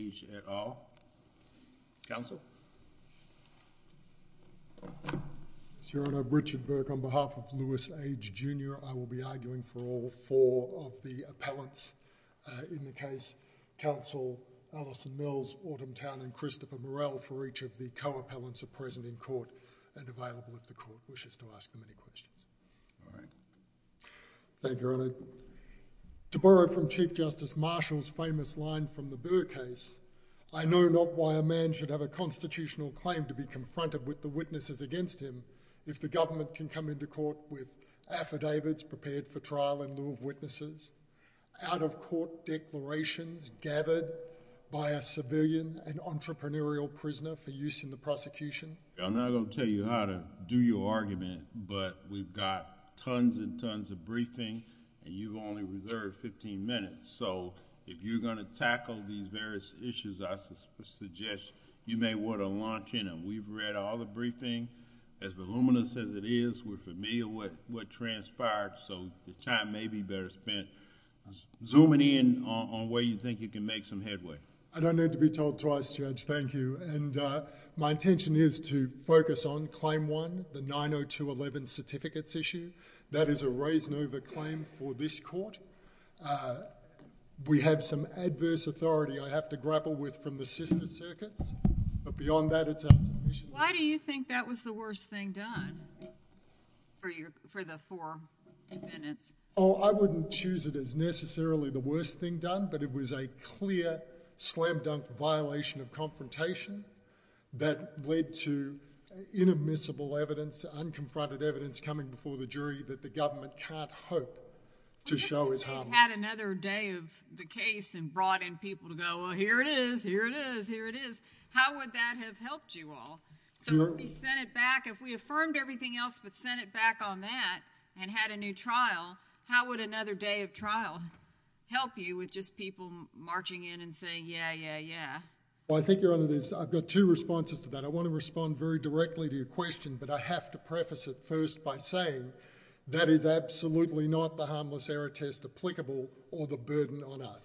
at all. Council? Your Honour, Richard Burke on behalf of Lewis Age Jr. I will be arguing for all four of the appellants in the case. Council Alison Mills, Autumn Town and Christopher Morrell for each of the co-appellants are present in court and available if the court wishes to ask them any questions. All right. Thank you Your Honour. To borrow from Chief Justice Marshall's famous line from the Burr case, I know not why a man should have a constitutional claim to be confronted with the witnesses against him if the government can come into court with affidavits prepared for trial in lieu of witnesses, out-of-court declarations gathered by a civilian and entrepreneurial prisoner for use in the prosecution. I'm not going to tell you how to do your argument but we've got tons and tons of briefing and you've only reserved 15 minutes so if you're going to tackle these various issues, I suggest you may want to launch in and we've read all the briefing. As voluminous as it is, we're familiar with what transpired so the time may be better spent zooming in on where you think you can make some headway. I don't need to be told twice, Judge. Thank you. My intention is to focus on Claim 1, the 902.11 certificates issue. That is a raise and over claim for this court. We have some adverse authority I have to grapple with from the sister circuits, but beyond that it's our submission. Why do you think that was the worst thing done for the four defendants? Oh, I wouldn't choose it as necessarily the worst thing done, but it was a clear slam-dunk violation of confrontation that led to inadmissible evidence, unconfronted evidence coming before the jury that the government can't hope to show is harmless. If you had another day of the case and brought in people to go, well, here it is, here it is, here it is, how would that have helped you all? If we sent it back, if we affirmed everything else but sent it back on that and had a new trial, how would another day of trial help you with just people marching in and saying, yeah, yeah, yeah? I think your Honour, I've got two responses to that. I want to respond very directly to your question, but I have to preface it first by saying that is absolutely not the harmless error test applicable or the burden on us.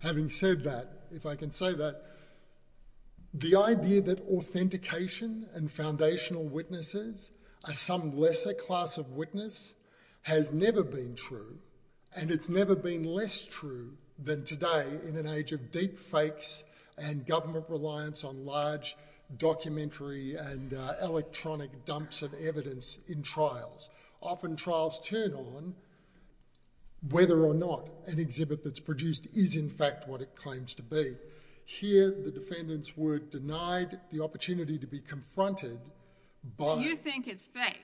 Having said that, if I can say that, the idea that authentication and foundational witnesses are some lesser class of witness has never been true, and it's never been less true than today in an age of deep fakes and government reliance on large documentary and electronic dumps of evidence in trials. Often trials turn on whether or not an exhibit that's produced is, in fact, what it claims to be. Here the defendants were denied the opportunity to be confronted by... You think it's fake,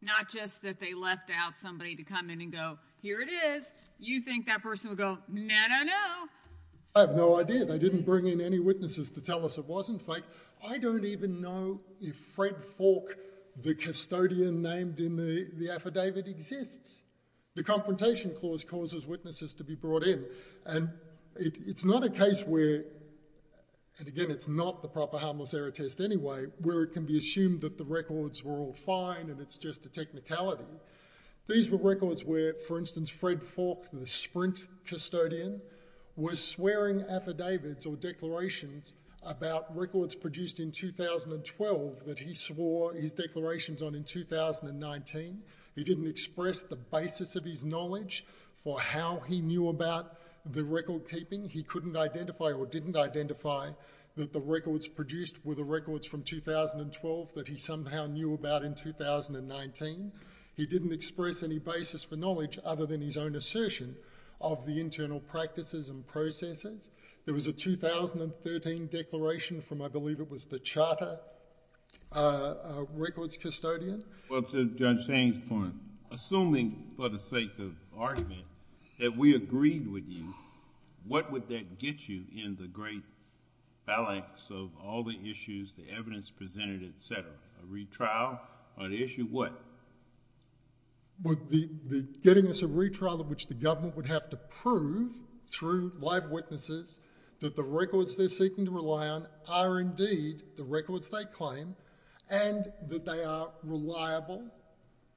not just that they left out somebody to come in and go, here it is. You think that person would go, no, no, no. I have no idea. They didn't bring in any witnesses to tell us it wasn't fake. I don't even know if Fred Faulk, the custodian named in the affidavit, exists. The confrontation clause causes witnesses to be brought in. It's not a case where, and again, it's not the proper harmless error test anyway, where it can be assumed that the records were all fine and it's just a technicality. These were records where, for instance, Fred Faulk, the Sprint 2012 that he swore his declarations on in 2019. He didn't express the basis of his knowledge for how he knew about the record keeping. He couldn't identify or didn't identify that the records produced were the records from 2012 that he somehow knew about in 2019. He didn't express any basis for knowledge other than his own assertion of the internal practices and processes. There was a 2013 declaration from, I believe it was the charter records custodian. Well, to Judge Sainz's point, assuming for the sake of argument that we agreed with you, what would that get you in the great ballots of all the issues, the evidence presented, et cetera? A retrial on issue what? The getting us a retrial of which the government would have to prove through live witnesses that the records they're seeking to rely on are indeed the records they claim and that they are reliable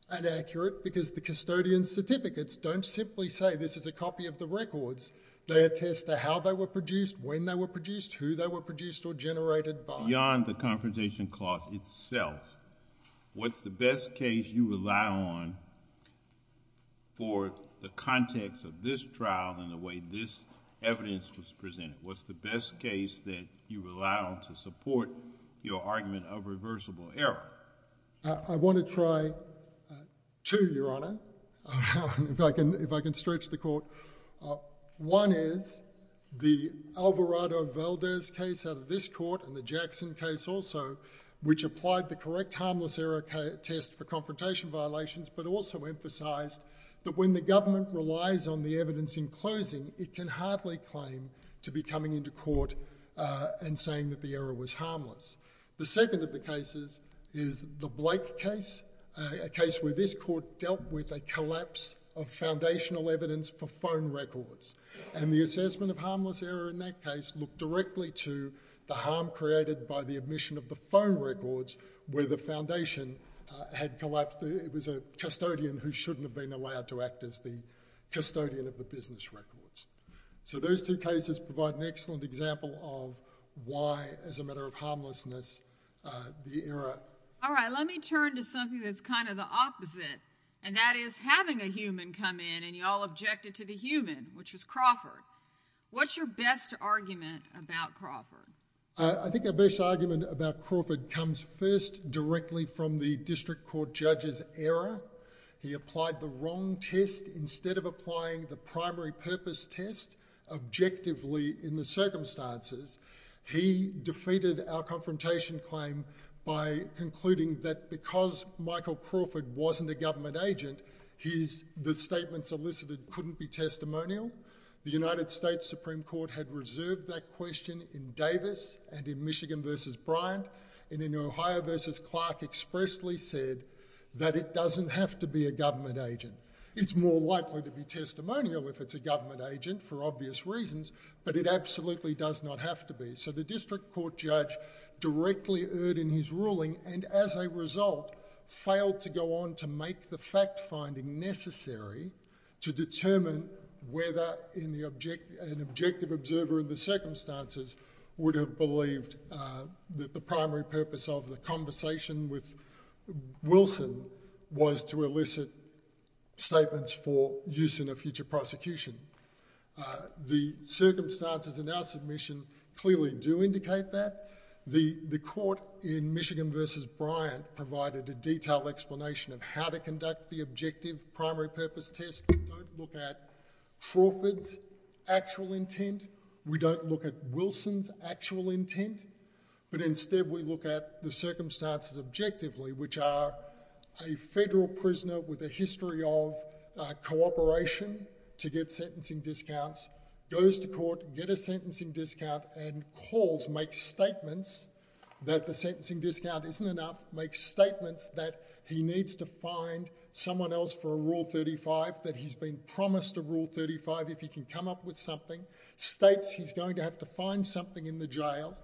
and accurate because the custodian's certificates don't simply say this is a copy of the records. They attest to how they were produced, when they were produced, who they were produced or generated by. Beyond the confrontation clause itself, what's the best case you rely on for the context of this trial and the way this evidence was presented? What's the best case that you rely on to support your argument of reversible error? I want to try two, Your Honor, if I can stretch the court. One is the Alvarado-Valdez case out of this court and the Jackson case also, which applied the correct harmless error test for confrontation violations, but also emphasized that when the government relies on the evidence in closing, it can hardly claim to be coming into court and saying that the error was harmless. The second of the cases is the Blake case, a case where this court dealt with a collapse of foundational evidence for phone records, and the assessment of harmless error in that case looked directly to the harm created by the admission of the phone records where the foundation had collapsed. It was a custodian who shouldn't have been allowed to act as the custodian of the business records. So those two cases provide an excellent example of why, as a matter of harmlessness, the error... All right, let me turn to something that's kind of the opposite, and that is having a human come in, and you all objected to the human, which was Crawford. What's your best argument about Crawford? I think our best argument about Crawford comes first directly from the district court judge's error. He applied the wrong test instead of applying the primary purpose test objectively in the circumstances. He defeated our confrontation claim by concluding that because Michael Crawford wasn't a government agent, the statements elicited couldn't be testimonial. The United States Supreme Court had reserved that question in Davis and in Michigan v. Bryant, and in Ohio v. Clark expressly said that it doesn't have to be a government agent. It's more likely to be testimonial if it's a government agent for obvious reasons, but it absolutely does not have to be. So the district court judge directly erred in his ruling and, as a result, failed to go on to make the fact-finding necessary to determine whether an objective observer in the circumstances would have believed that the primary purpose of the conversation with Wilson was to elicit statements for use in a future prosecution. The circumstances in our submission clearly do indicate that. The court in Michigan v. Bryant provided a detailed explanation of how to conduct the objective primary purpose test. We don't look at Crawford's actual intent. We don't look at Wilson's actual intent, but instead we look at the circumstances objectively, which are a federal prisoner with a history of cooperation to get sentencing discounts goes to court, get a sentencing discount, and calls, makes statements that the sentencing discount isn't enough, makes statements that he needs to find someone else for a Rule 35, that he's been promised a Rule 35 if he can come up with something, states he's going to have to find something in the jail,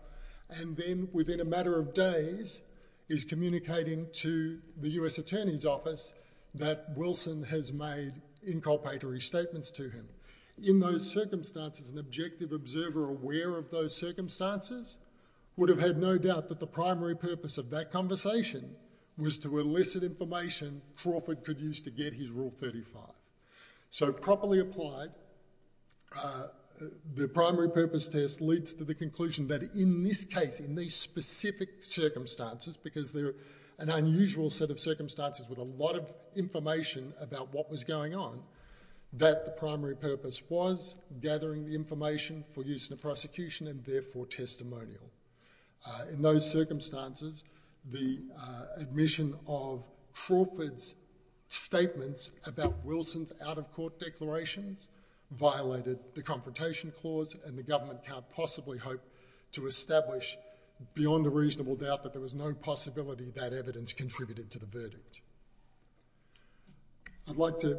and then, within a matter of days, is communicating to the U.S. Attorney's Office that Wilson has made inculpatory statements to him. In those circumstances, an objective observer aware of those circumstances would have had no doubt that the primary purpose of that conversation was to elicit information Crawford could use to get his Rule 35. So, properly applied, the primary purpose test leads to the conclusion that in this case, in these specific circumstances, because they're an unusual set of circumstances with a lot of information about what was going on, that the primary purpose was gathering the information for use in a prosecution and, therefore, testimonial. In those circumstances, the admission of Crawford's statements about Wilson's out-of-court declarations violated the Confrontation Clause and the government can't possibly hope to establish beyond a reasonable doubt that there was no possibility that evidence contributed to the verdict. I'd like to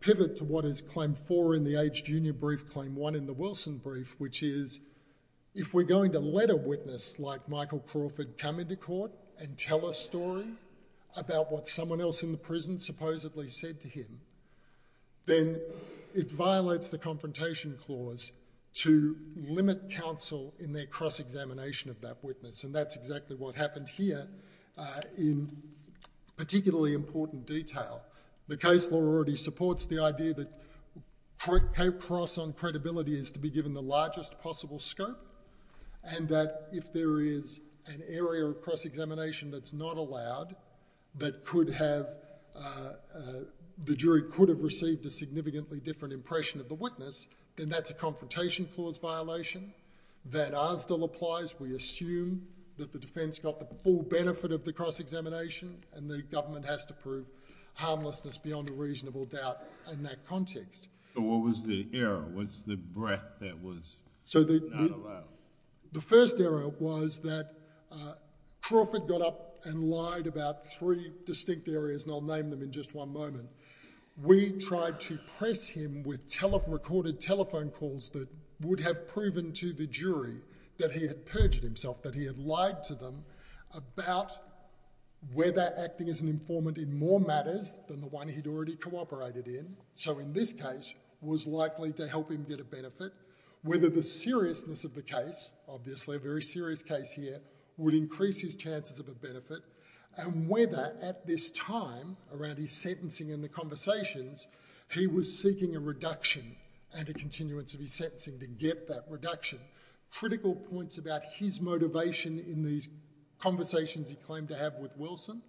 pivot to what is Claim 4 in the Age Junior Brief, Claim 1 in the Wilson Brief, which is, if we're going to let a witness like Michael Crawford come into court and tell a story about what someone else in the prison supposedly said to him, then it violates the Confrontation Clause to limit counsel in their cross-examination of that detail. The case law already supports the idea that cross on credibility is to be given the largest possible scope and that if there is an area of cross-examination that's not allowed, that the jury could have received a significantly different impression of the witness, then that's a Confrontation Clause violation. That as still applies, we assume that the defense got the full benefit of the cross-examination and the government has to prove harmlessness beyond a reasonable doubt in that context. So what was the error? What's the breadth that was not allowed? The first error was that Crawford got up and lied about three distinct areas, and I'll name them in just one moment. We tried to press him with recorded telephone calls that would have proven to the jury that he had perjured himself, that he had lied to them about whether acting as an informant in more matters than the one he'd already cooperated in, so in this case, was likely to help him get a benefit, whether the seriousness of the case, obviously a very serious case here, would increase his chances of a benefit, and whether at this time around his sentencing and the conversations, he was seeking a reduction and a continuance of his sentencing to get that reduction. Critical points about his motivation in these conversations he claimed to have with Wilson.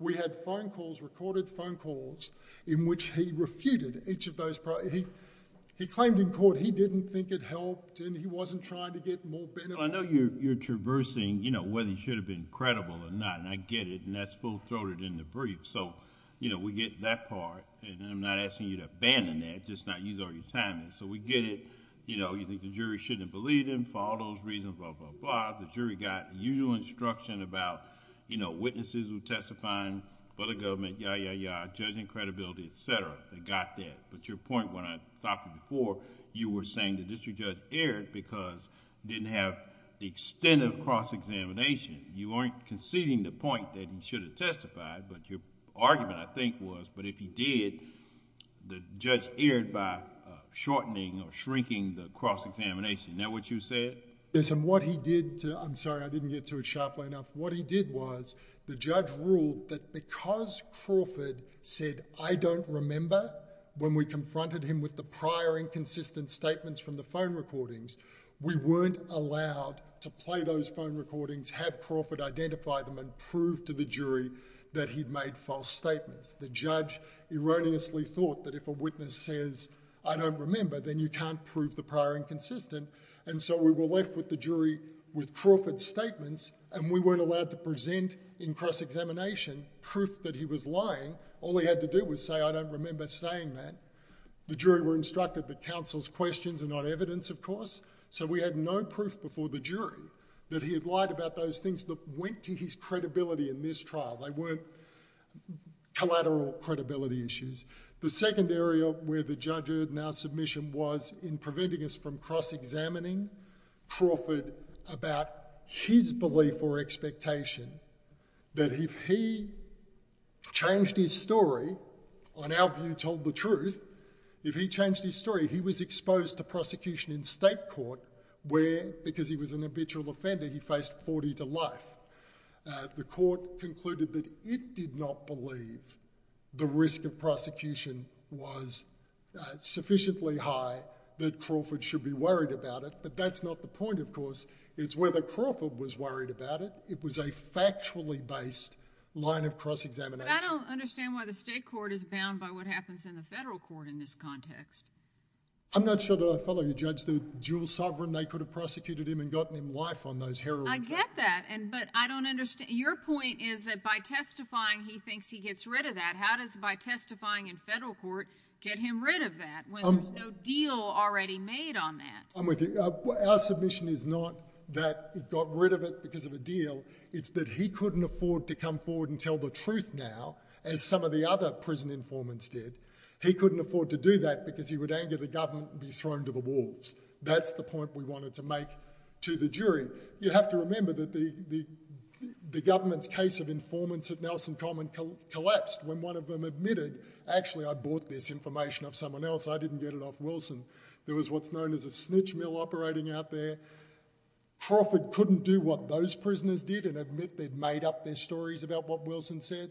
We had phone calls, recorded phone calls, in which he refuted each of those pro—he claimed in court he didn't think it helped and he wasn't trying to get more benefit. Well, I know you're traversing, you know, whether he should have been credible or not, and I get it, and that's full-throated in the brief, so, you know, we get that part, and I'm not asking you to abandon that, just not use all your time in it, so we get it, you know, you think the jury shouldn't have believed him for all those reasons, blah, blah, blah, the jury got the usual instruction about, you know, witnesses who testifying for the government, yah, yah, yah, judging credibility, et cetera, they got that, but your point when I stopped you before, you were saying the district judge erred because he didn't have the extent of cross-examination. You weren't conceding the point that he should have testified, but your argument, I think, was, but if he did, the judge erred by shortening or shrinking the cross-examination. Is that what you said? Yes, and what he did to—I'm sorry, I didn't get to it sharply enough—what he did was the judge ruled that because Crawford said, I don't remember when we confronted him with the prior inconsistent statements from the phone recordings, we weren't allowed to play those phone recordings, have Crawford identify them, and prove to the jury that he'd made false statements. The judge erroneously thought that if a witness says, I don't remember, then you can't prove the prior inconsistent, and so we were left with the jury with Crawford's statements, and we weren't allowed to present in cross-examination proof that he was lying. All he had to do was say, I don't remember saying that. The jury were instructed that counsel's questions are not evidence, of course, so we had no proof before the jury that he had lied about those things that went to his credibility in this trial. They weren't collateral credibility issues. The second area where the judge erred in our submission was in preventing us from cross-examining Crawford about his belief or expectation that if he changed his story, on our view, told the truth, if he changed his story, he was exposed to prosecution in state court where, because he was an habitual offender, he faced 40 to life. The court concluded that it did not believe the risk of prosecution was sufficiently high that Crawford should be worried about it, but that's not the point, of course. It's whether Crawford was worried about it. It was a factually based line of cross-examination. But I don't understand why the state court is bound by what happens in the federal court in this context. I'm not sure that I follow you, Judge. The dual sovereign, they could have prosecuted him and gotten him life on those heroin charges. I get that, but I don't understand. Your point is that by testifying, he thinks he gets rid of that. How does by testifying in federal court get him rid of that when there's no deal already made on that? Our submission is not that he got rid of it because of a deal. It's that he couldn't afford to come forward and tell the truth now, as some of the other prison informants did. He couldn't afford to do that because he would anger the government and be thrown to the walls. That's the point we wanted to make to the jury. You have to remember that the government's case of informants at Nelson Common collapsed when one of them admitted, actually, I bought this information off someone else. I didn't get it off Wilson. There was what's known as a snitch mill operating out there. Crawford couldn't do what those prisoners did and admit they'd made up their stories about what Wilson said.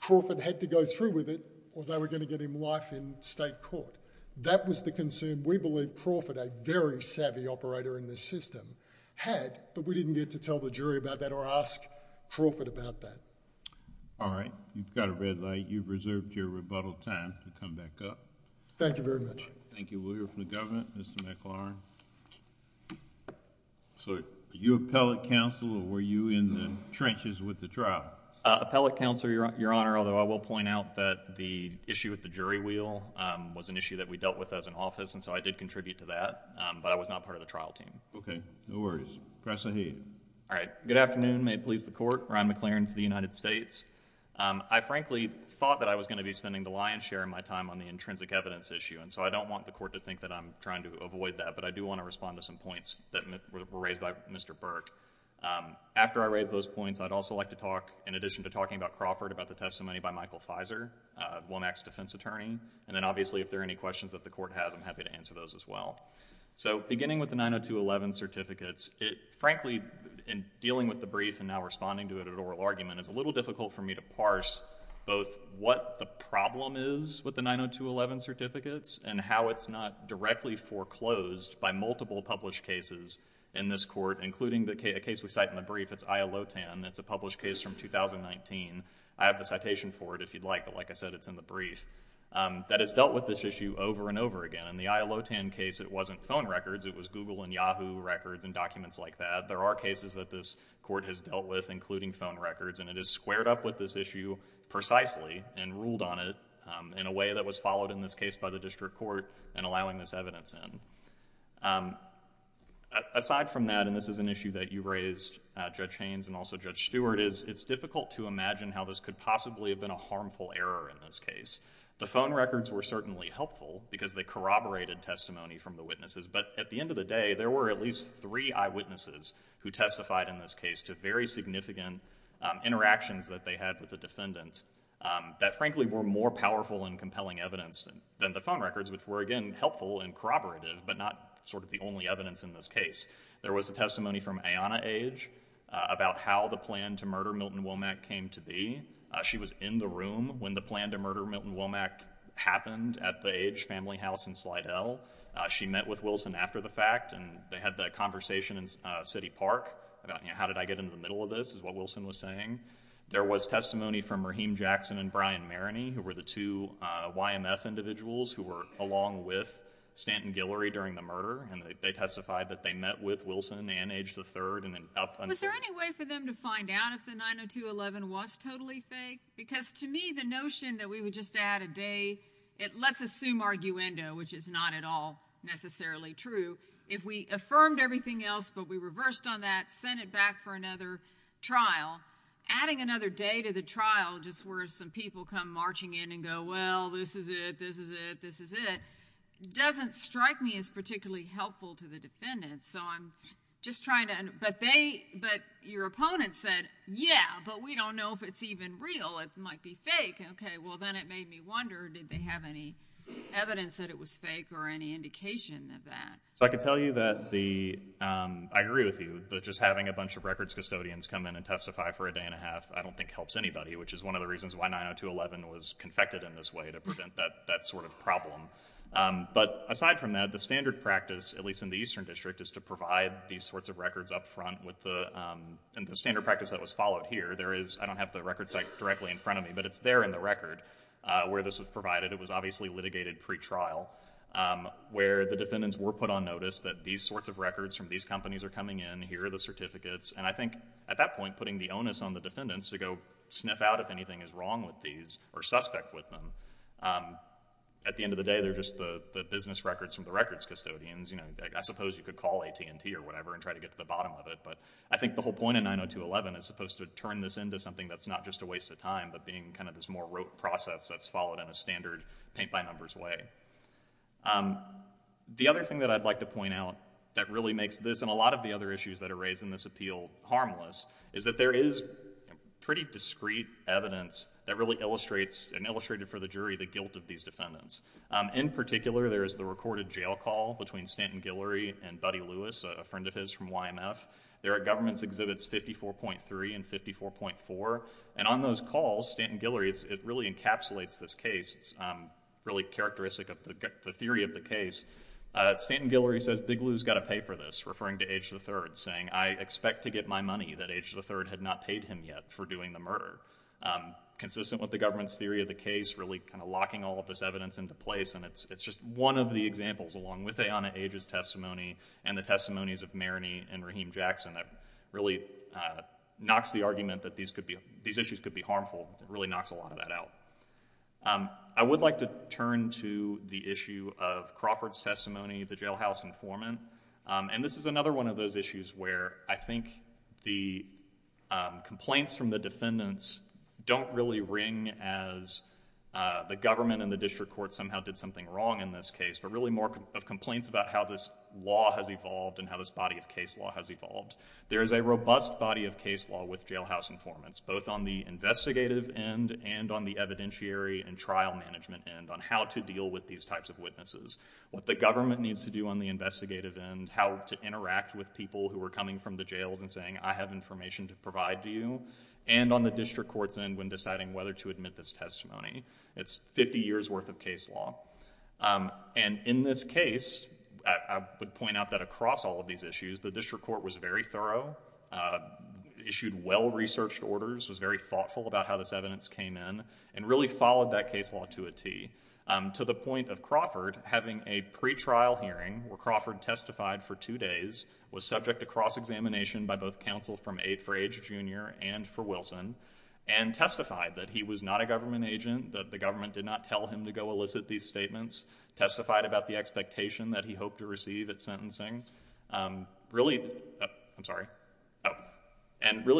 Crawford had to go through with it or they were going to get him life in state court. That was the concern we believe Crawford, a very savvy operator in this system, had, but we didn't get to tell the jury about that or ask Crawford about that. All right. You've got a red light. You've reserved your rebuttal time to come back up. Thank you very much. Thank you. Will you open the government, Mr. McLaurin? Are you appellate counsel or were you in the trenches with the trial? Appellate counsel, Your Honor, although I will point out that the issue with the jury wheel was an issue that we dealt with as an office, and so I did contribute to that, but I was not part of the trial team. Okay. No worries. Professor Hayden. All right. Good afternoon. May it please the Court. Ryan McLaurin for the United States. I frankly thought that I was going to be spending the lion's share of my time on the intrinsic evidence issue, and so I don't want the Court to think that I'm trying to avoid that, but I do want to respond to some points that were raised by Mr. Burke. After I raise those points, I'd also like to talk, in addition to talking about Crawford, about the testimony by Michael Fizer, Womack's defense attorney, and then obviously if there are any questions that the Court has, I'm happy to answer those as well. Beginning with the 902.11 certificates, frankly, in dealing with the brief and now responding to it at oral argument, it's a little difficult for me to parse both what the problem is with the 902.11 certificates and how it's not directly foreclosed by multiple published cases in this Court, including the case we cite in the brief. It's Ayalotan. It's a published case from 2019. I have the citation for it, if you'd like, but like I said, it's in the brief, that has dealt with this issue over and over again. In the Ayalotan case, it wasn't phone records. It was Google and Yahoo records and documents like that. There are cases that this Court has dealt with, including phone records, and it has squared up with this issue precisely and ruled on it in a way that was difficult to find this evidence in. Aside from that, and this is an issue that you raised, Judge Haynes and also Judge Stewart, is it's difficult to imagine how this could possibly have been a harmful error in this case. The phone records were certainly helpful because they corroborated testimony from the witnesses, but at the end of the day, there were at least three eyewitnesses who testified in this case to very significant interactions that they had with the defendants that, frankly, were more powerful and compelling evidence than the phone records, which were, again, helpful and corroborative, but not sort of the only evidence in this case. There was a testimony from Ayanna Age about how the plan to murder Milton Womack came to be. She was in the room when the plan to murder Milton Womack happened at the Age family house in Slidell. She met with Wilson after the fact, and they had the conversation in City Park about, you know, how did I get in the middle of this, is what Wilson was saying. There was testimony from Raheem Jackson and Brian Maroney, who were the two YMF individuals who were along with Stanton Guillory during the murder, and they testified that they met with Wilson, Ayanna Age III, and then up until— Was there any way for them to find out if the 902.11 was totally fake? Because to me, the notion that we would just add a day, let's assume arguendo, which is not at all necessarily true, if we affirmed everything else, but we reversed on that, sent it back for another trial, adding another day to the trial, just where some people come marching in and go, well, this is it, this is it, this is it, doesn't strike me as particularly helpful to the defendants. So I'm just trying to—but your opponent said, yeah, but we don't know if it's even real. It might be fake. Okay. Well, then it made me wonder, did they have any evidence that it was fake or any indication of that? So I can tell you that the—I agree with you that just having a bunch of records custodians come in and testify for a day and a half, I don't think helps anybody, which is one of the reasons why 90211 was confected in this way, to prevent that sort of problem. But aside from that, the standard practice, at least in the Eastern District, is to provide these sorts of records up front with the—and the standard practice that was followed here, there is—I don't have the record site directly in front of me, but it's there in the record where this was provided. It was obviously litigated pretrial, where the defendants were put on notice that these sorts of records from these companies are coming in. Here are the certificates. And I think at that point, putting the onus on the defendants to go sniff out if anything is wrong with these or suspect with them, at the end of the day, they're just the business records from the records custodians. I suppose you could call AT&T or whatever and try to get to the bottom of it, but I think the whole point of 90211 is supposed to turn this into something that's not just a waste of time, but being kind of this more historic process that's followed in a standard paint-by-numbers way. The other thing that I'd like to point out that really makes this and a lot of the other issues that are raised in this appeal harmless is that there is pretty discreet evidence that really illustrates, and illustrated for the jury, the guilt of these defendants. In particular, there is the recorded jail call between Stanton Guillory and Buddy Lewis, a friend of his from YMF. There are government exhibits 54.3 and 54.4. On those calls, Stanton Guillory, it really encapsulates this case. It's really characteristic of the theory of the case. Stanton Guillory says, Big Lew's got to pay for this, referring to Age III, saying, I expect to get my money that Age III had not paid him yet for doing the murder. Consistent with the government's theory of the case, really kind of locking all of this evidence into place, and it's just one of the examples along with Ayanna Age's testimony and the testimonies of Maroney and Jackson that really knocks the argument that these issues could be harmful. It really knocks a lot of that out. I would like to turn to the issue of Crawford's testimony, the jailhouse informant, and this is another one of those issues where I think the complaints from the defendants don't really ring as the government and the district court somehow did something wrong in this case, but really more of complaints about how this law has evolved and how this body of case law has evolved. There is a robust body of case law with jailhouse informants, both on the investigative end and on the evidentiary and trial management end on how to deal with these types of witnesses, what the government needs to do on the investigative end, how to interact with people who are coming from the jails and saying, I have information to provide to you, and on the district court's end when deciding whether to admit this testimony. It's 50 years' worth of case law. In this case, I would point out that across all of these issues, the district court was very thorough, issued well-researched orders, was very thoughtful about how this evidence came in, and really followed that case law to a T, to the point of Crawford having a pretrial hearing where Crawford testified for two days, was subject to cross-examination by both counsel from Aid for Age Jr. and for Wilson, and testified that he was not a government agent, that the government did not tell him to illicit these statements, testified about the expectation that he hoped to receive at sentencing, and really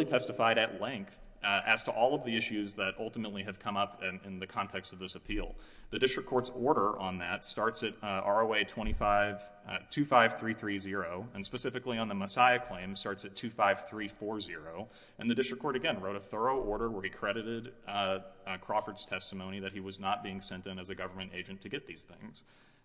testified at length as to all of the issues that ultimately have come up in the context of this appeal. The district court's order on that starts at ROA 25330, and specifically on the Messiah claim, starts at 25340, and the district court, again, wrote a thorough order where he credited Crawford's testimony that he was not being sent in as a government agent to get these things.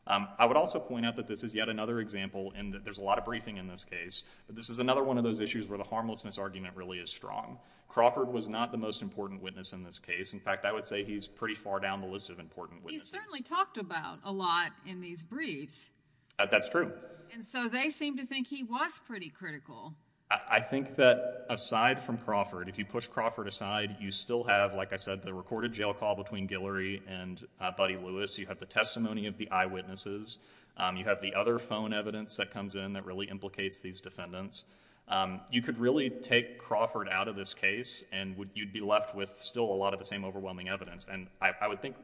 I would also point out that this is yet another example, and that there's a lot of briefing in this case, but this is another one of those issues where the harmlessness argument really is strong. Crawford was not the most important witness in this case. In fact, I would say he's pretty far down the list of important witnesses. He's certainly talked about a lot in these briefs. That's true. And so they seem to think he was pretty critical. I think that aside from Crawford, if you push Crawford aside, you still have, like I said, the recorded jail call between Guillory and Buddy Lewis. You have the testimony of the eyewitnesses. You have the other phone evidence that comes in that really implicates these defendants. You could really take Crawford out of this case, and you'd be left with still a lot of the same overwhelming evidence. And I would think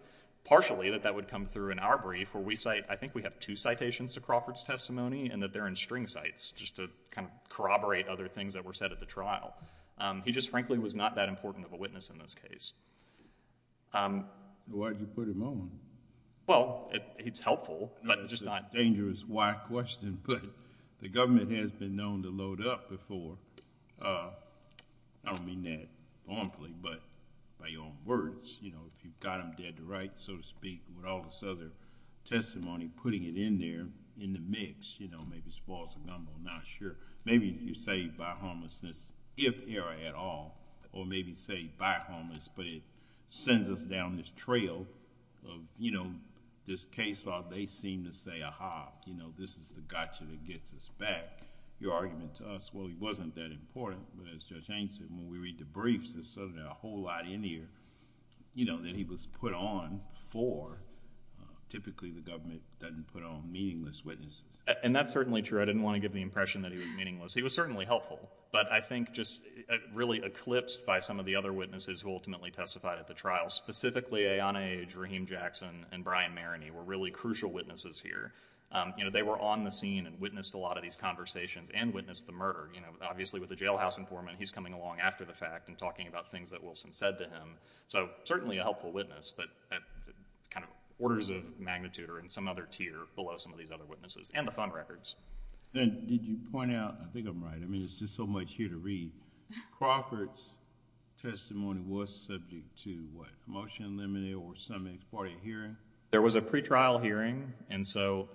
partially that that would come through in our brief, where I think we have two citations to Crawford's testimony, and that they're in string cites, just to kind of corroborate other things that were said at the trial. He just frankly was not that important of a witness in this case. Why did you put him on? Well, it's helpful, but it's just not... That's a dangerous why question. But the government has been known to load up before. I don't mean that formally, but by your own words. If you've got them dead to rights, so to speak, with all this other testimony, putting it in there, in the mix, maybe it's false or gumbo, I'm not sure. Maybe you say by homelessness, if error at all, or maybe say by homelessness, but it sends us down this trail of, you know, this case where they seem to say, aha, you know, this is the gotcha that gets us back. Your argument to us, well, he wasn't that important, but as Judge Haines said, when we read the briefs, there's certainly a whole lot in here, you know, that he was put on for. Typically, the government doesn't put on meaningless witnesses. And that's certainly true. I didn't want to give the impression that he was meaningless. He was certainly helpful. But I think just really eclipsed by some of the other witnesses who ultimately testified at the trial, specifically Ayanna Aj, Raheem Jackson, and Brian Maroney were really crucial witnesses here. You know, they were on the scene and witnessed a lot of these conversations and witnessed the murder. You know, obviously with the jailhouse informant, he's coming along after the fact and talking about things that Wilson said to him. So certainly a helpful witness, but at kind of orders of magnitude or in some other tier below some of these other witnesses and the fund records. And did you point out, I think I'm right, I mean, there's just so much here to read, Crawford's testimony was subject to what, promotion limited or some ex parte hearing? There was a pretrial hearing and so...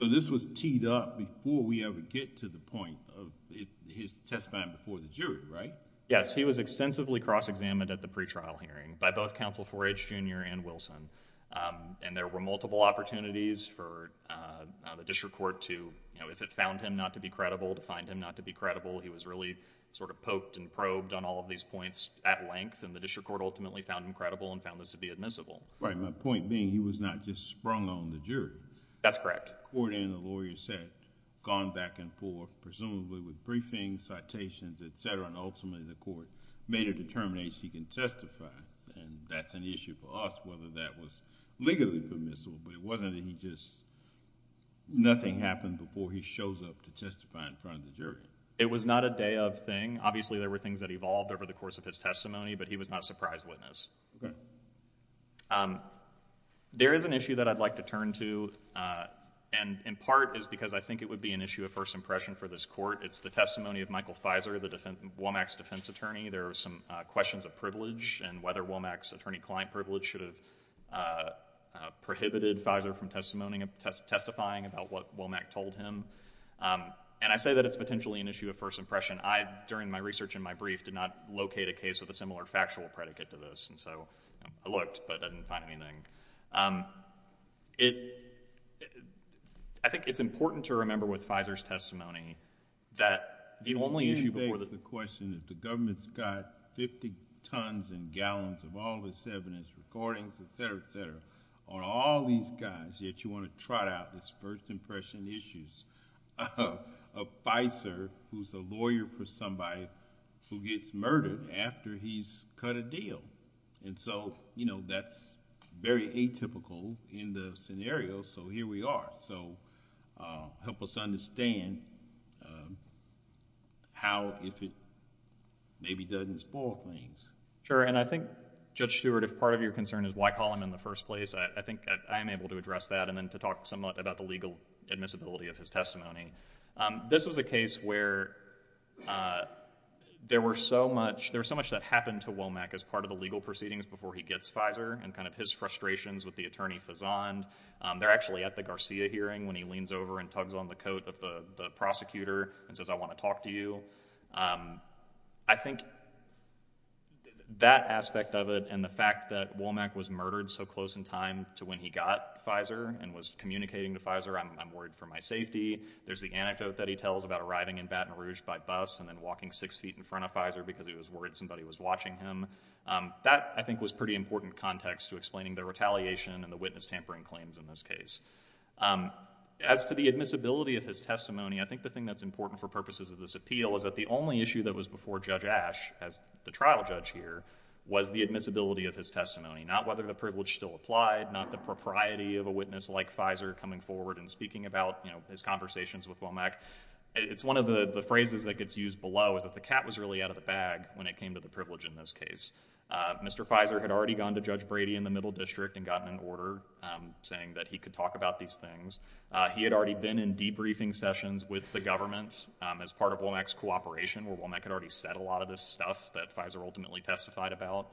So this was teed up before we ever get to the point of his testifying before the jury, right? Yes. He was extensively cross-examined at the pretrial hearing by both counsel 4H Jr. and Wilson. And there were multiple opportunities for the district court to, you know, if it found him not to be credible, to find him not to be credible, he was really sort of poked and probed on all of these points at length. And the district court ultimately found him credible and found this to be admissible. Right. My point being, he was not just sprung on the jury. That's correct. The court and the lawyer said, gone back and forth, presumably with briefings, citations, et cetera, and ultimately the court made a determination he can testify. And that's an issue for us, whether that was legally permissible, but it wasn't that he just... nothing happened before he shows up to testify in front of the jury. It was not a day of thing. Obviously, there were things that evolved over the course of his testimony, but he was not a surprise witness. Okay. There is an issue that I'd like to turn to, and in part is because I think it would be an issue of first impression for this court. It's the testimony of Michael Fizer, the Womack's defense attorney. There are some questions of privilege and whether Womack's attorney-client privilege should have prohibited Fizer from testifying about what Womack told him. And I say that it's potentially an issue of first impression. I, during my research in my brief, did not locate a case with a similar factual predicate to this, and so I looked, but I didn't find anything. I think it's important to remember with Fizer's testimony that the government's got 50 tons and gallons of all this evidence, recordings, et cetera, et cetera, on all these guys, yet you want to trot out this first impression issues of Fizer, who's a lawyer for somebody who gets murdered after he's cut a deal. And so that's very atypical in the scenario, so here we are. So, help us understand how, if it maybe doesn't spoil things. Sure, and I think, Judge Stewart, if part of your concern is why call him in the first place, I think I am able to address that and then to talk somewhat about the legal admissibility of his testimony. This was a case where there were so much, there was so much that happened to Womack as part of the legal proceedings before he gets Fizer, and kind of his frustrations with the attorney fazoned. They're actually at the Garcia hearing when he leans over and tugs on the coat of the prosecutor and says, I want to talk to you. I think that aspect of it and the fact that Womack was murdered so close in time to when he got Fizer and was communicating to Fizer, I'm worried for my safety. There's the anecdote that he tells about arriving in Baton Rouge by bus and then walking six feet in front of Fizer because he was worried somebody was watching him. That, I think, was pretty important context to explaining the claims in this case. As to the admissibility of his testimony, I think the thing that's important for purposes of this appeal is that the only issue that was before Judge Ash as the trial judge here was the admissibility of his testimony, not whether the privilege still applied, not the propriety of a witness like Fizer coming forward and speaking about his conversations with Womack. It's one of the phrases that gets used below is that the cat was really out of the bag when it came to the privilege in this case. Mr. Fizer had already gone to Judge Brady in the middle district and gotten an order saying that he could talk about these things. He had already been in debriefing sessions with the government as part of Womack's cooperation where Womack had already said a lot of this stuff that Fizer ultimately testified about.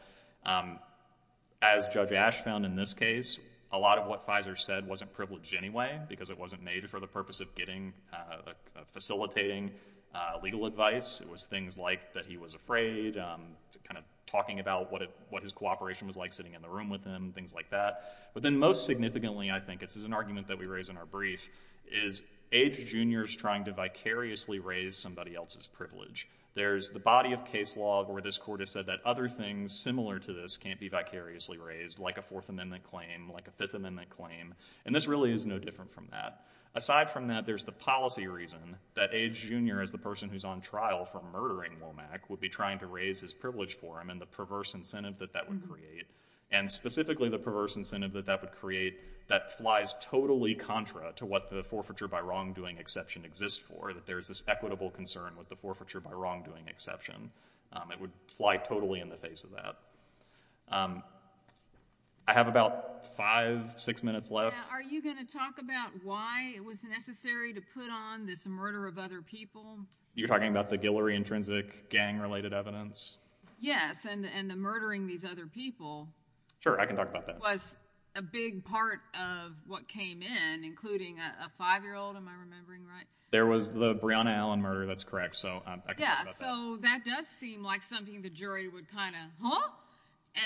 As Judge Ash found in this case, a lot of what Fizer said wasn't privileged anyway because it wasn't made for the purpose of getting facilitating legal advice. It was things like that he was afraid, kind of talking about what his cooperation was like sitting in the room with him, things like that. But then most significantly I think, this is an argument that we raise in our brief, is Age Jr. is trying to vicariously raise somebody else's There's the body of case law where this court has said that other things similar to this can't be vicariously raised like a Fourth Amendment claim, like a Fifth Amendment claim. And this really is no different from that. Aside from that, there's the policy reason that Age Jr. as the person who's on trial for murdering Womack would be trying to raise his And specifically the perverse incentive that that would create, that flies totally contra to what the forfeiture by wrongdoing exception exists for, that there's this equitable concern with the forfeiture by wrongdoing exception. It would fly totally in the face of that. I have about five, six minutes left. Are you going to talk about why it was necessary to put on this murder of other people? You're talking about the Guillory intrinsic gang-related evidence? Yes. And the murdering these other people. Sure. I can talk about that. Was a big part of what came in, including a five-year-old. Am I remembering right? There was the Breonna Allen murder. That's correct. So I can talk about that. Yeah. So that does seem like something the jury would kind of, huh?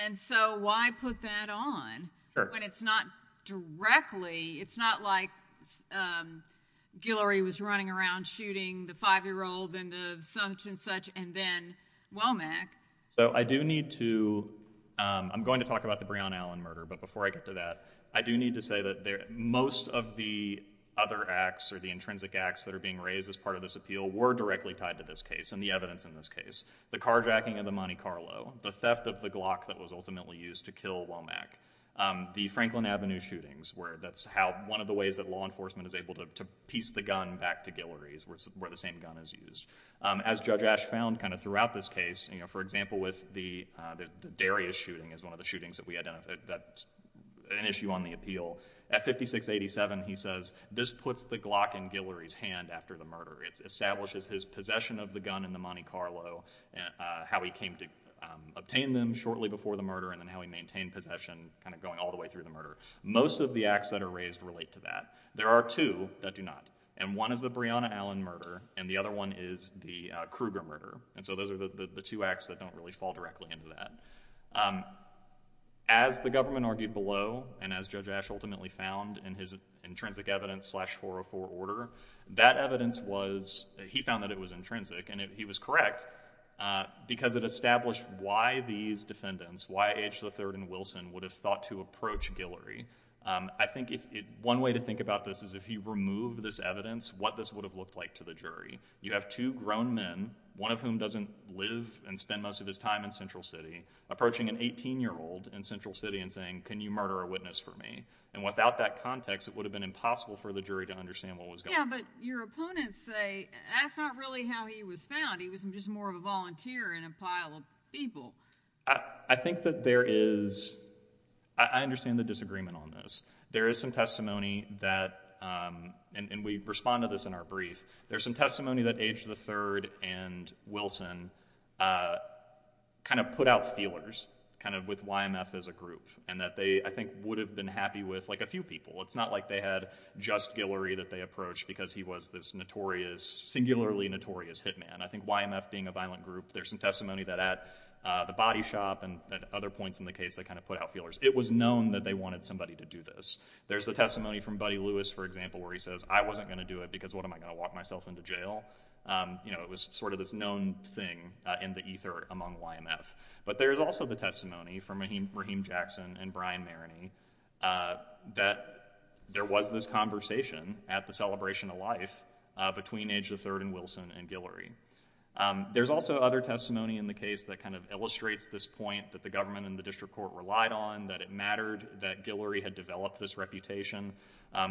And so why put that on? Sure. When it's not directly, it's not like Guillory was running around shooting the five-year-old and the such and such and then Womack. So I do need to, I'm going to talk about the Breonna Allen murder. But before I get to that, I do need to say that most of the other acts or the intrinsic acts that are being raised as part of this appeal were directly tied to this case and the evidence in this case. The carjacking of the Monte Carlo, the theft of the Glock that was ultimately used to kill Womack, the Franklin Avenue shootings where that's how, one of the ways that law enforcement is able to piece the gun back to Guillory is where the same gun is used. As Judge Ash found kind of throughout this case, for example with the Darius shooting is one of the shootings that we identified that's an issue on the appeal. At 5687, he says this puts the Glock in Guillory's hand after the murder. It establishes his possession of the gun in the Monte Carlo and how he came to obtain them shortly before the murder and then how he maintained possession kind of going all the way through the murder. Most of the acts that are raised relate to that. There are two that do not. One is the Breonna Allen murder and the other one is the Kruger murder. Those are the two acts that don't really fall directly into that. As the government argued below and as Judge Ash ultimately found in his intrinsic evidence slash 404 order, that evidence was, he found that it was intrinsic and he was correct because it established why these defendants, why H III and Wilson would have thought to approach Guillory. I think one way to think about this is if you remove this evidence, what this would have looked like to the jury. You have two grown men, one of whom doesn't live and spend most of his time in Central City, approaching an 18-year-old in Central City and saying, can you murder a witness for me? And without that context, it would have been impossible for the jury to understand what was going on. Yeah, but your opponents say that's not really how he was found. He was just more of a volunteer in a pile of people. I think that there is, I understand the disagreement on this. There is some testimony that, and we respond to this in our brief, there's some testimony that H III and Wilson kind of put out feelers kind of with YMF as a group and that they, I think, would have been happy with like a few people. It's not like they had just Guillory that they approached because he was this notorious, singularly notorious hitman. I think YMF being a violent group, there's some testimony that at the body shop and other points in the case, they kind of put out feelers. It was known that they wanted somebody to do this. There's the testimony from Buddy Lewis, for example, where he says, I wasn't going to do it because what, am I going to lock myself into jail? You know, it was sort of this known thing in the ether among YMF. But there's also the testimony from Raheem Jackson and Brian Maroney that there was this conversation at the celebration of life between H III and Wilson and Guillory. There's also other testimony in the case that kind of illustrates this point that the government and the district court relied on, that it mattered that Guillory had developed this reputation.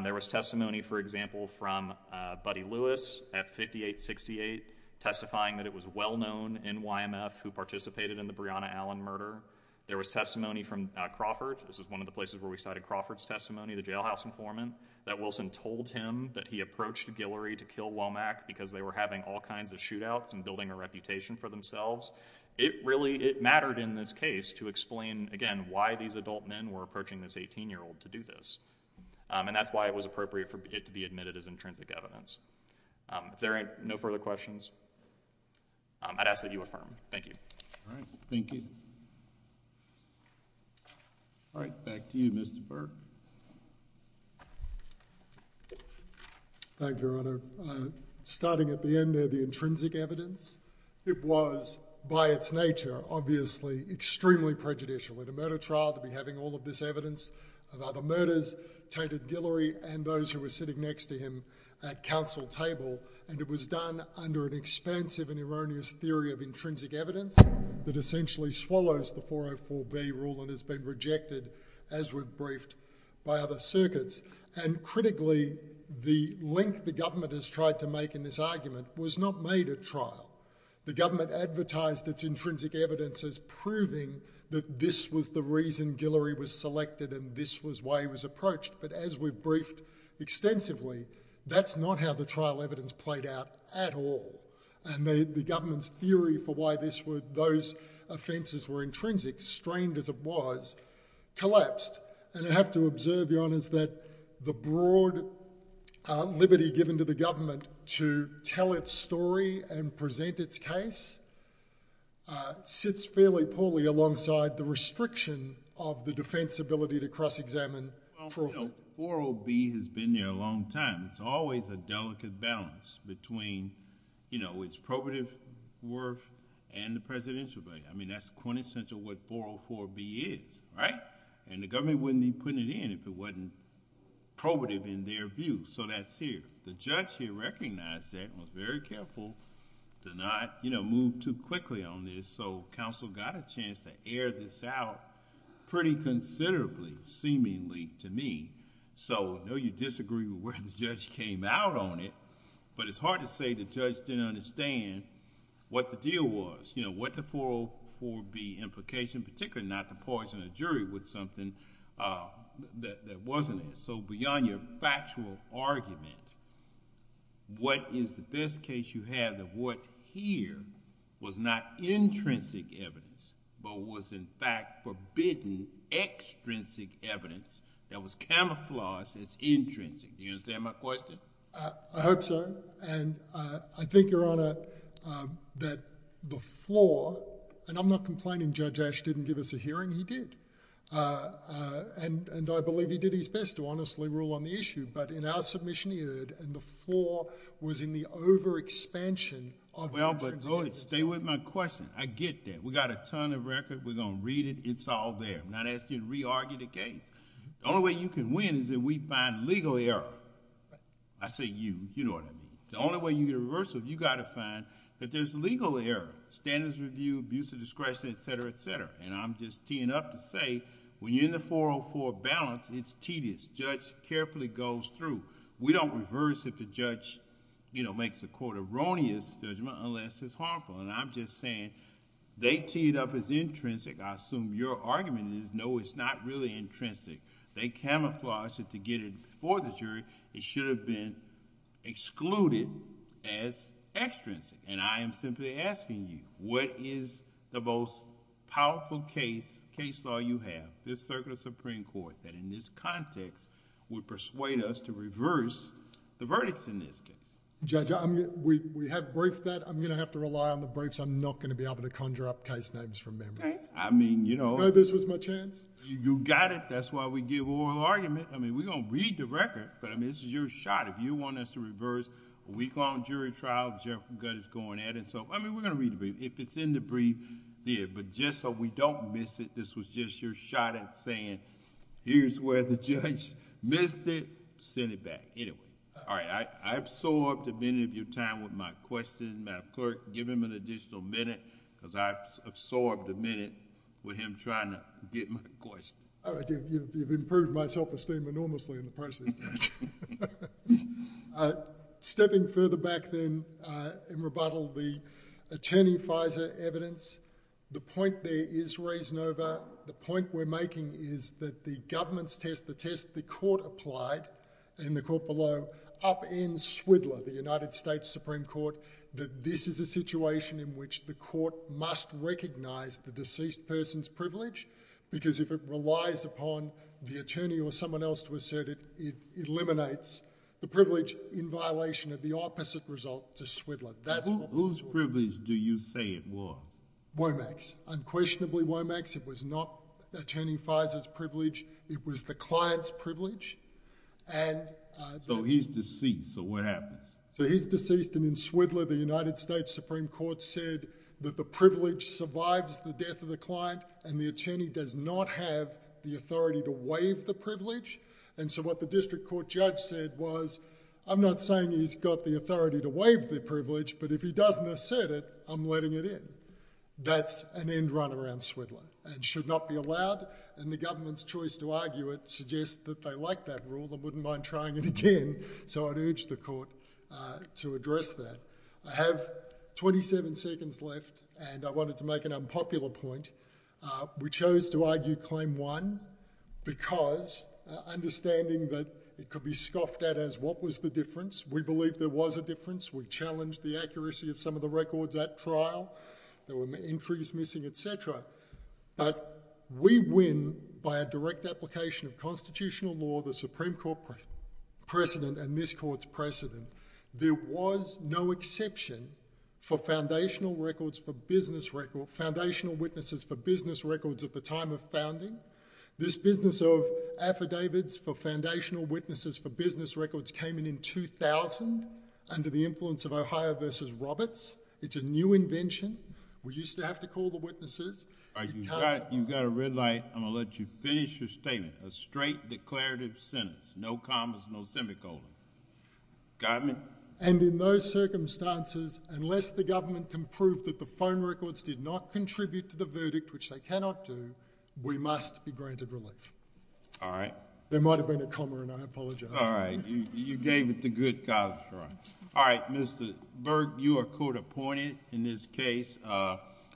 There was testimony, for example, from Buddy Lewis at 5868 testifying that it was well-known in YMF who participated in the Breonna Allen murder. There was testimony from Crawford. This is one of the places where we cited Crawford's testimony, the jailhouse informant, that Wilson told him that he approached Guillory to kill Womack because they were having all kinds of shootouts and building a reputation for themselves. It really, it mattered in this case to explain, again, why these adult men were approaching this 18-year-old to do this. And that's why it was appropriate for it to be admitted as intrinsic evidence. If there are no further questions, I'd ask that you affirm. Thank you. All right. Thank you. All right. Back to you, Mr. Burke. Thank you, Your Honour. Starting at the end there, the intrinsic evidence. It was, by its nature, obviously extremely prejudicial. In a murder trial, to be having all of this evidence about the murders, tainted Guillory and those who were sitting next to him at council table. And it was done under an expansive and erroneous theory of intrinsic evidence that essentially swallows the 404B rule and has been rejected, as we've briefed, by other circuits. And critically, the link the government has tried to make in this argument was not made at trial. The government advertised its intrinsic evidence as proving that this was the reason Guillory was selected and this was why he was approached. But as we've briefed extensively, that's not how the trial evidence played out at all. And the government's theory for why those offences were intrinsic, strained as it was, collapsed. And I have to observe, Your Honours, that the broad liberty given to the government to tell its story and present its case sits fairly poorly alongside the restriction of the defence ability to cross-examine profit. Well, 40B has been there a long time. It's always a delicate balance between its probative worth and the presidential value. I mean, that's quintessential what 404B is, right? And the government wouldn't be putting it in if it wasn't probative in their view. So that's here. The judge here recognized that and was very careful to not move too quickly on this, so counsel got a chance to air this out pretty considerably, seemingly, to me. So I know you disagree with where the judge came out on it, but it's hard to say the judge didn't understand what the deal was, you know, what the 404B implication, particularly not to poison a jury with something that wasn't it. So beyond your factual argument, what is the best case you have that what, here, was not intrinsic evidence but was, in fact, forbidden extrinsic evidence that was camouflaged as intrinsic? Do you understand my question? I hope so. And I think, Your Honor, that the floor, and I'm not complaining Judge Ash didn't give us a hearing. He did. And I believe he did his best to honestly rule on the issue, but in our submission he heard and the floor was in the over-expansion of intrinsic evidence. Well, but stay with my question. I get that. We've got a ton of record. We're going to read it. It's all there. I'm not asking you to re-argue the case. The only way you can win is if we find legal error. I say you. You know what I mean. The only way you can get a reversal, you've got to find that there's legal error, standards review, abuse of discretion, et cetera, et cetera. And I'm just teeing up to say when you're in the 404 balance, it's tedious. The judge carefully goes through. We don't reverse if the judge makes a, quote, erroneous judgment unless it's harmful. And I'm just saying they teed up as intrinsic. I assume your argument is, no, it's not really intrinsic. They camouflaged it to get it before the jury. It should have been excluded as extrinsic. And I am simply asking you, what is the most powerful case, case law you have, this circuit of Supreme Court, that in this context would persuade us to reverse the verdicts in this case? Judge, we have briefed that. I'm going to have to rely on the briefs. I'm not going to be able to conjure up case names from memory. I mean, you know... This was my chance. You got it. That's why we give oral argument. I mean, we're going to read the record. But, I mean, this is your shot. If you want us to reverse a week-long jury trial, the judge is going at it. So, I mean, we're going to read the brief. If it's in the brief, there. But just so we don't miss it, this was just your shot at saying, here's where the judge missed it, send it back. Anyway. All right. I absorbed a minute of your time with my question. Madam Clerk, give him an additional minute, because I absorbed a minute with him trying to get my question. All right. You've improved my self-esteem enormously in the process. Stepping further back, then, in rebuttal, the attorney FISA evidence, the point there is reasonable. The point we're making is that the government's test, the test the court applied, in the court below, upends Swidler, the United States Supreme Court, that this is a situation in which the court must recognize the deceased person's privilege, because if it relies upon the attorney or someone else to assert it, it eliminates the privilege in violation of the opposite result to Swidler. Whose privilege do you say it was? Womack's. Unquestionably, Womack's. It was not Attorney FISA's privilege. It was the client's privilege. And... So, he's deceased. So, what happens? So, he's deceased. And in Swidler, the United States Supreme Court said that the privilege survives the death of the client and the attorney does not have the authority to waive the privilege. And so, what the district court judge said was, I'm not saying he's got the authority to waive the privilege, but if he doesn't assert it, I'm letting it in. That's an end run around Swidler. It should not be allowed, and the government's choice to argue it suggests that they like that rule and wouldn't mind trying it again. So, I'd urge the court to address that. I have 27 seconds left and I wanted to make an unpopular point. We chose to argue Claim 1 because understanding that it could be scoffed at as what was the difference. We believed there was a difference. We challenged the accuracy of some of the records at trial. There were entries missing, et cetera. But we win by a direct application of constitutional law, the Supreme Court precedent and this court's precedent. There was no exception for foundational records for business record, foundational witnesses for business records at the time of founding. This business of affidavits for foundational witnesses for business records came in in 2000 under the influence of Ohio versus Roberts. It's a new invention. We used to have to call the witnesses. You've got a red light. I'm going to let you finish your statement. A straight declarative sentence. No commas, no semicolon. Got me? And in those circumstances, unless the government can prove that the phone records did not contribute to the verdict, which they cannot do, we must be granted relief. All right. There might have been a comma and I apologize. All right. You gave it the good college run. All right, Mr. Berg, you are court appointed in this case.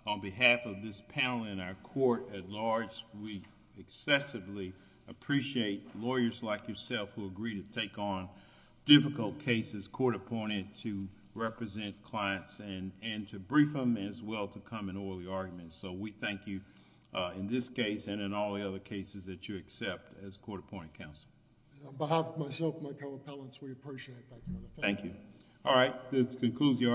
On behalf of this panel and our court at large, we excessively appreciate lawyers like yourself who agree to take on difficult cases, court appointed to represent clients and to brief them as well to come in all the arguments. We thank you in this case and in all the other cases that you accept as court appointed counsel. On behalf of myself and my co-appellants, we appreciate that. Thank you. All right. This concludes the argument.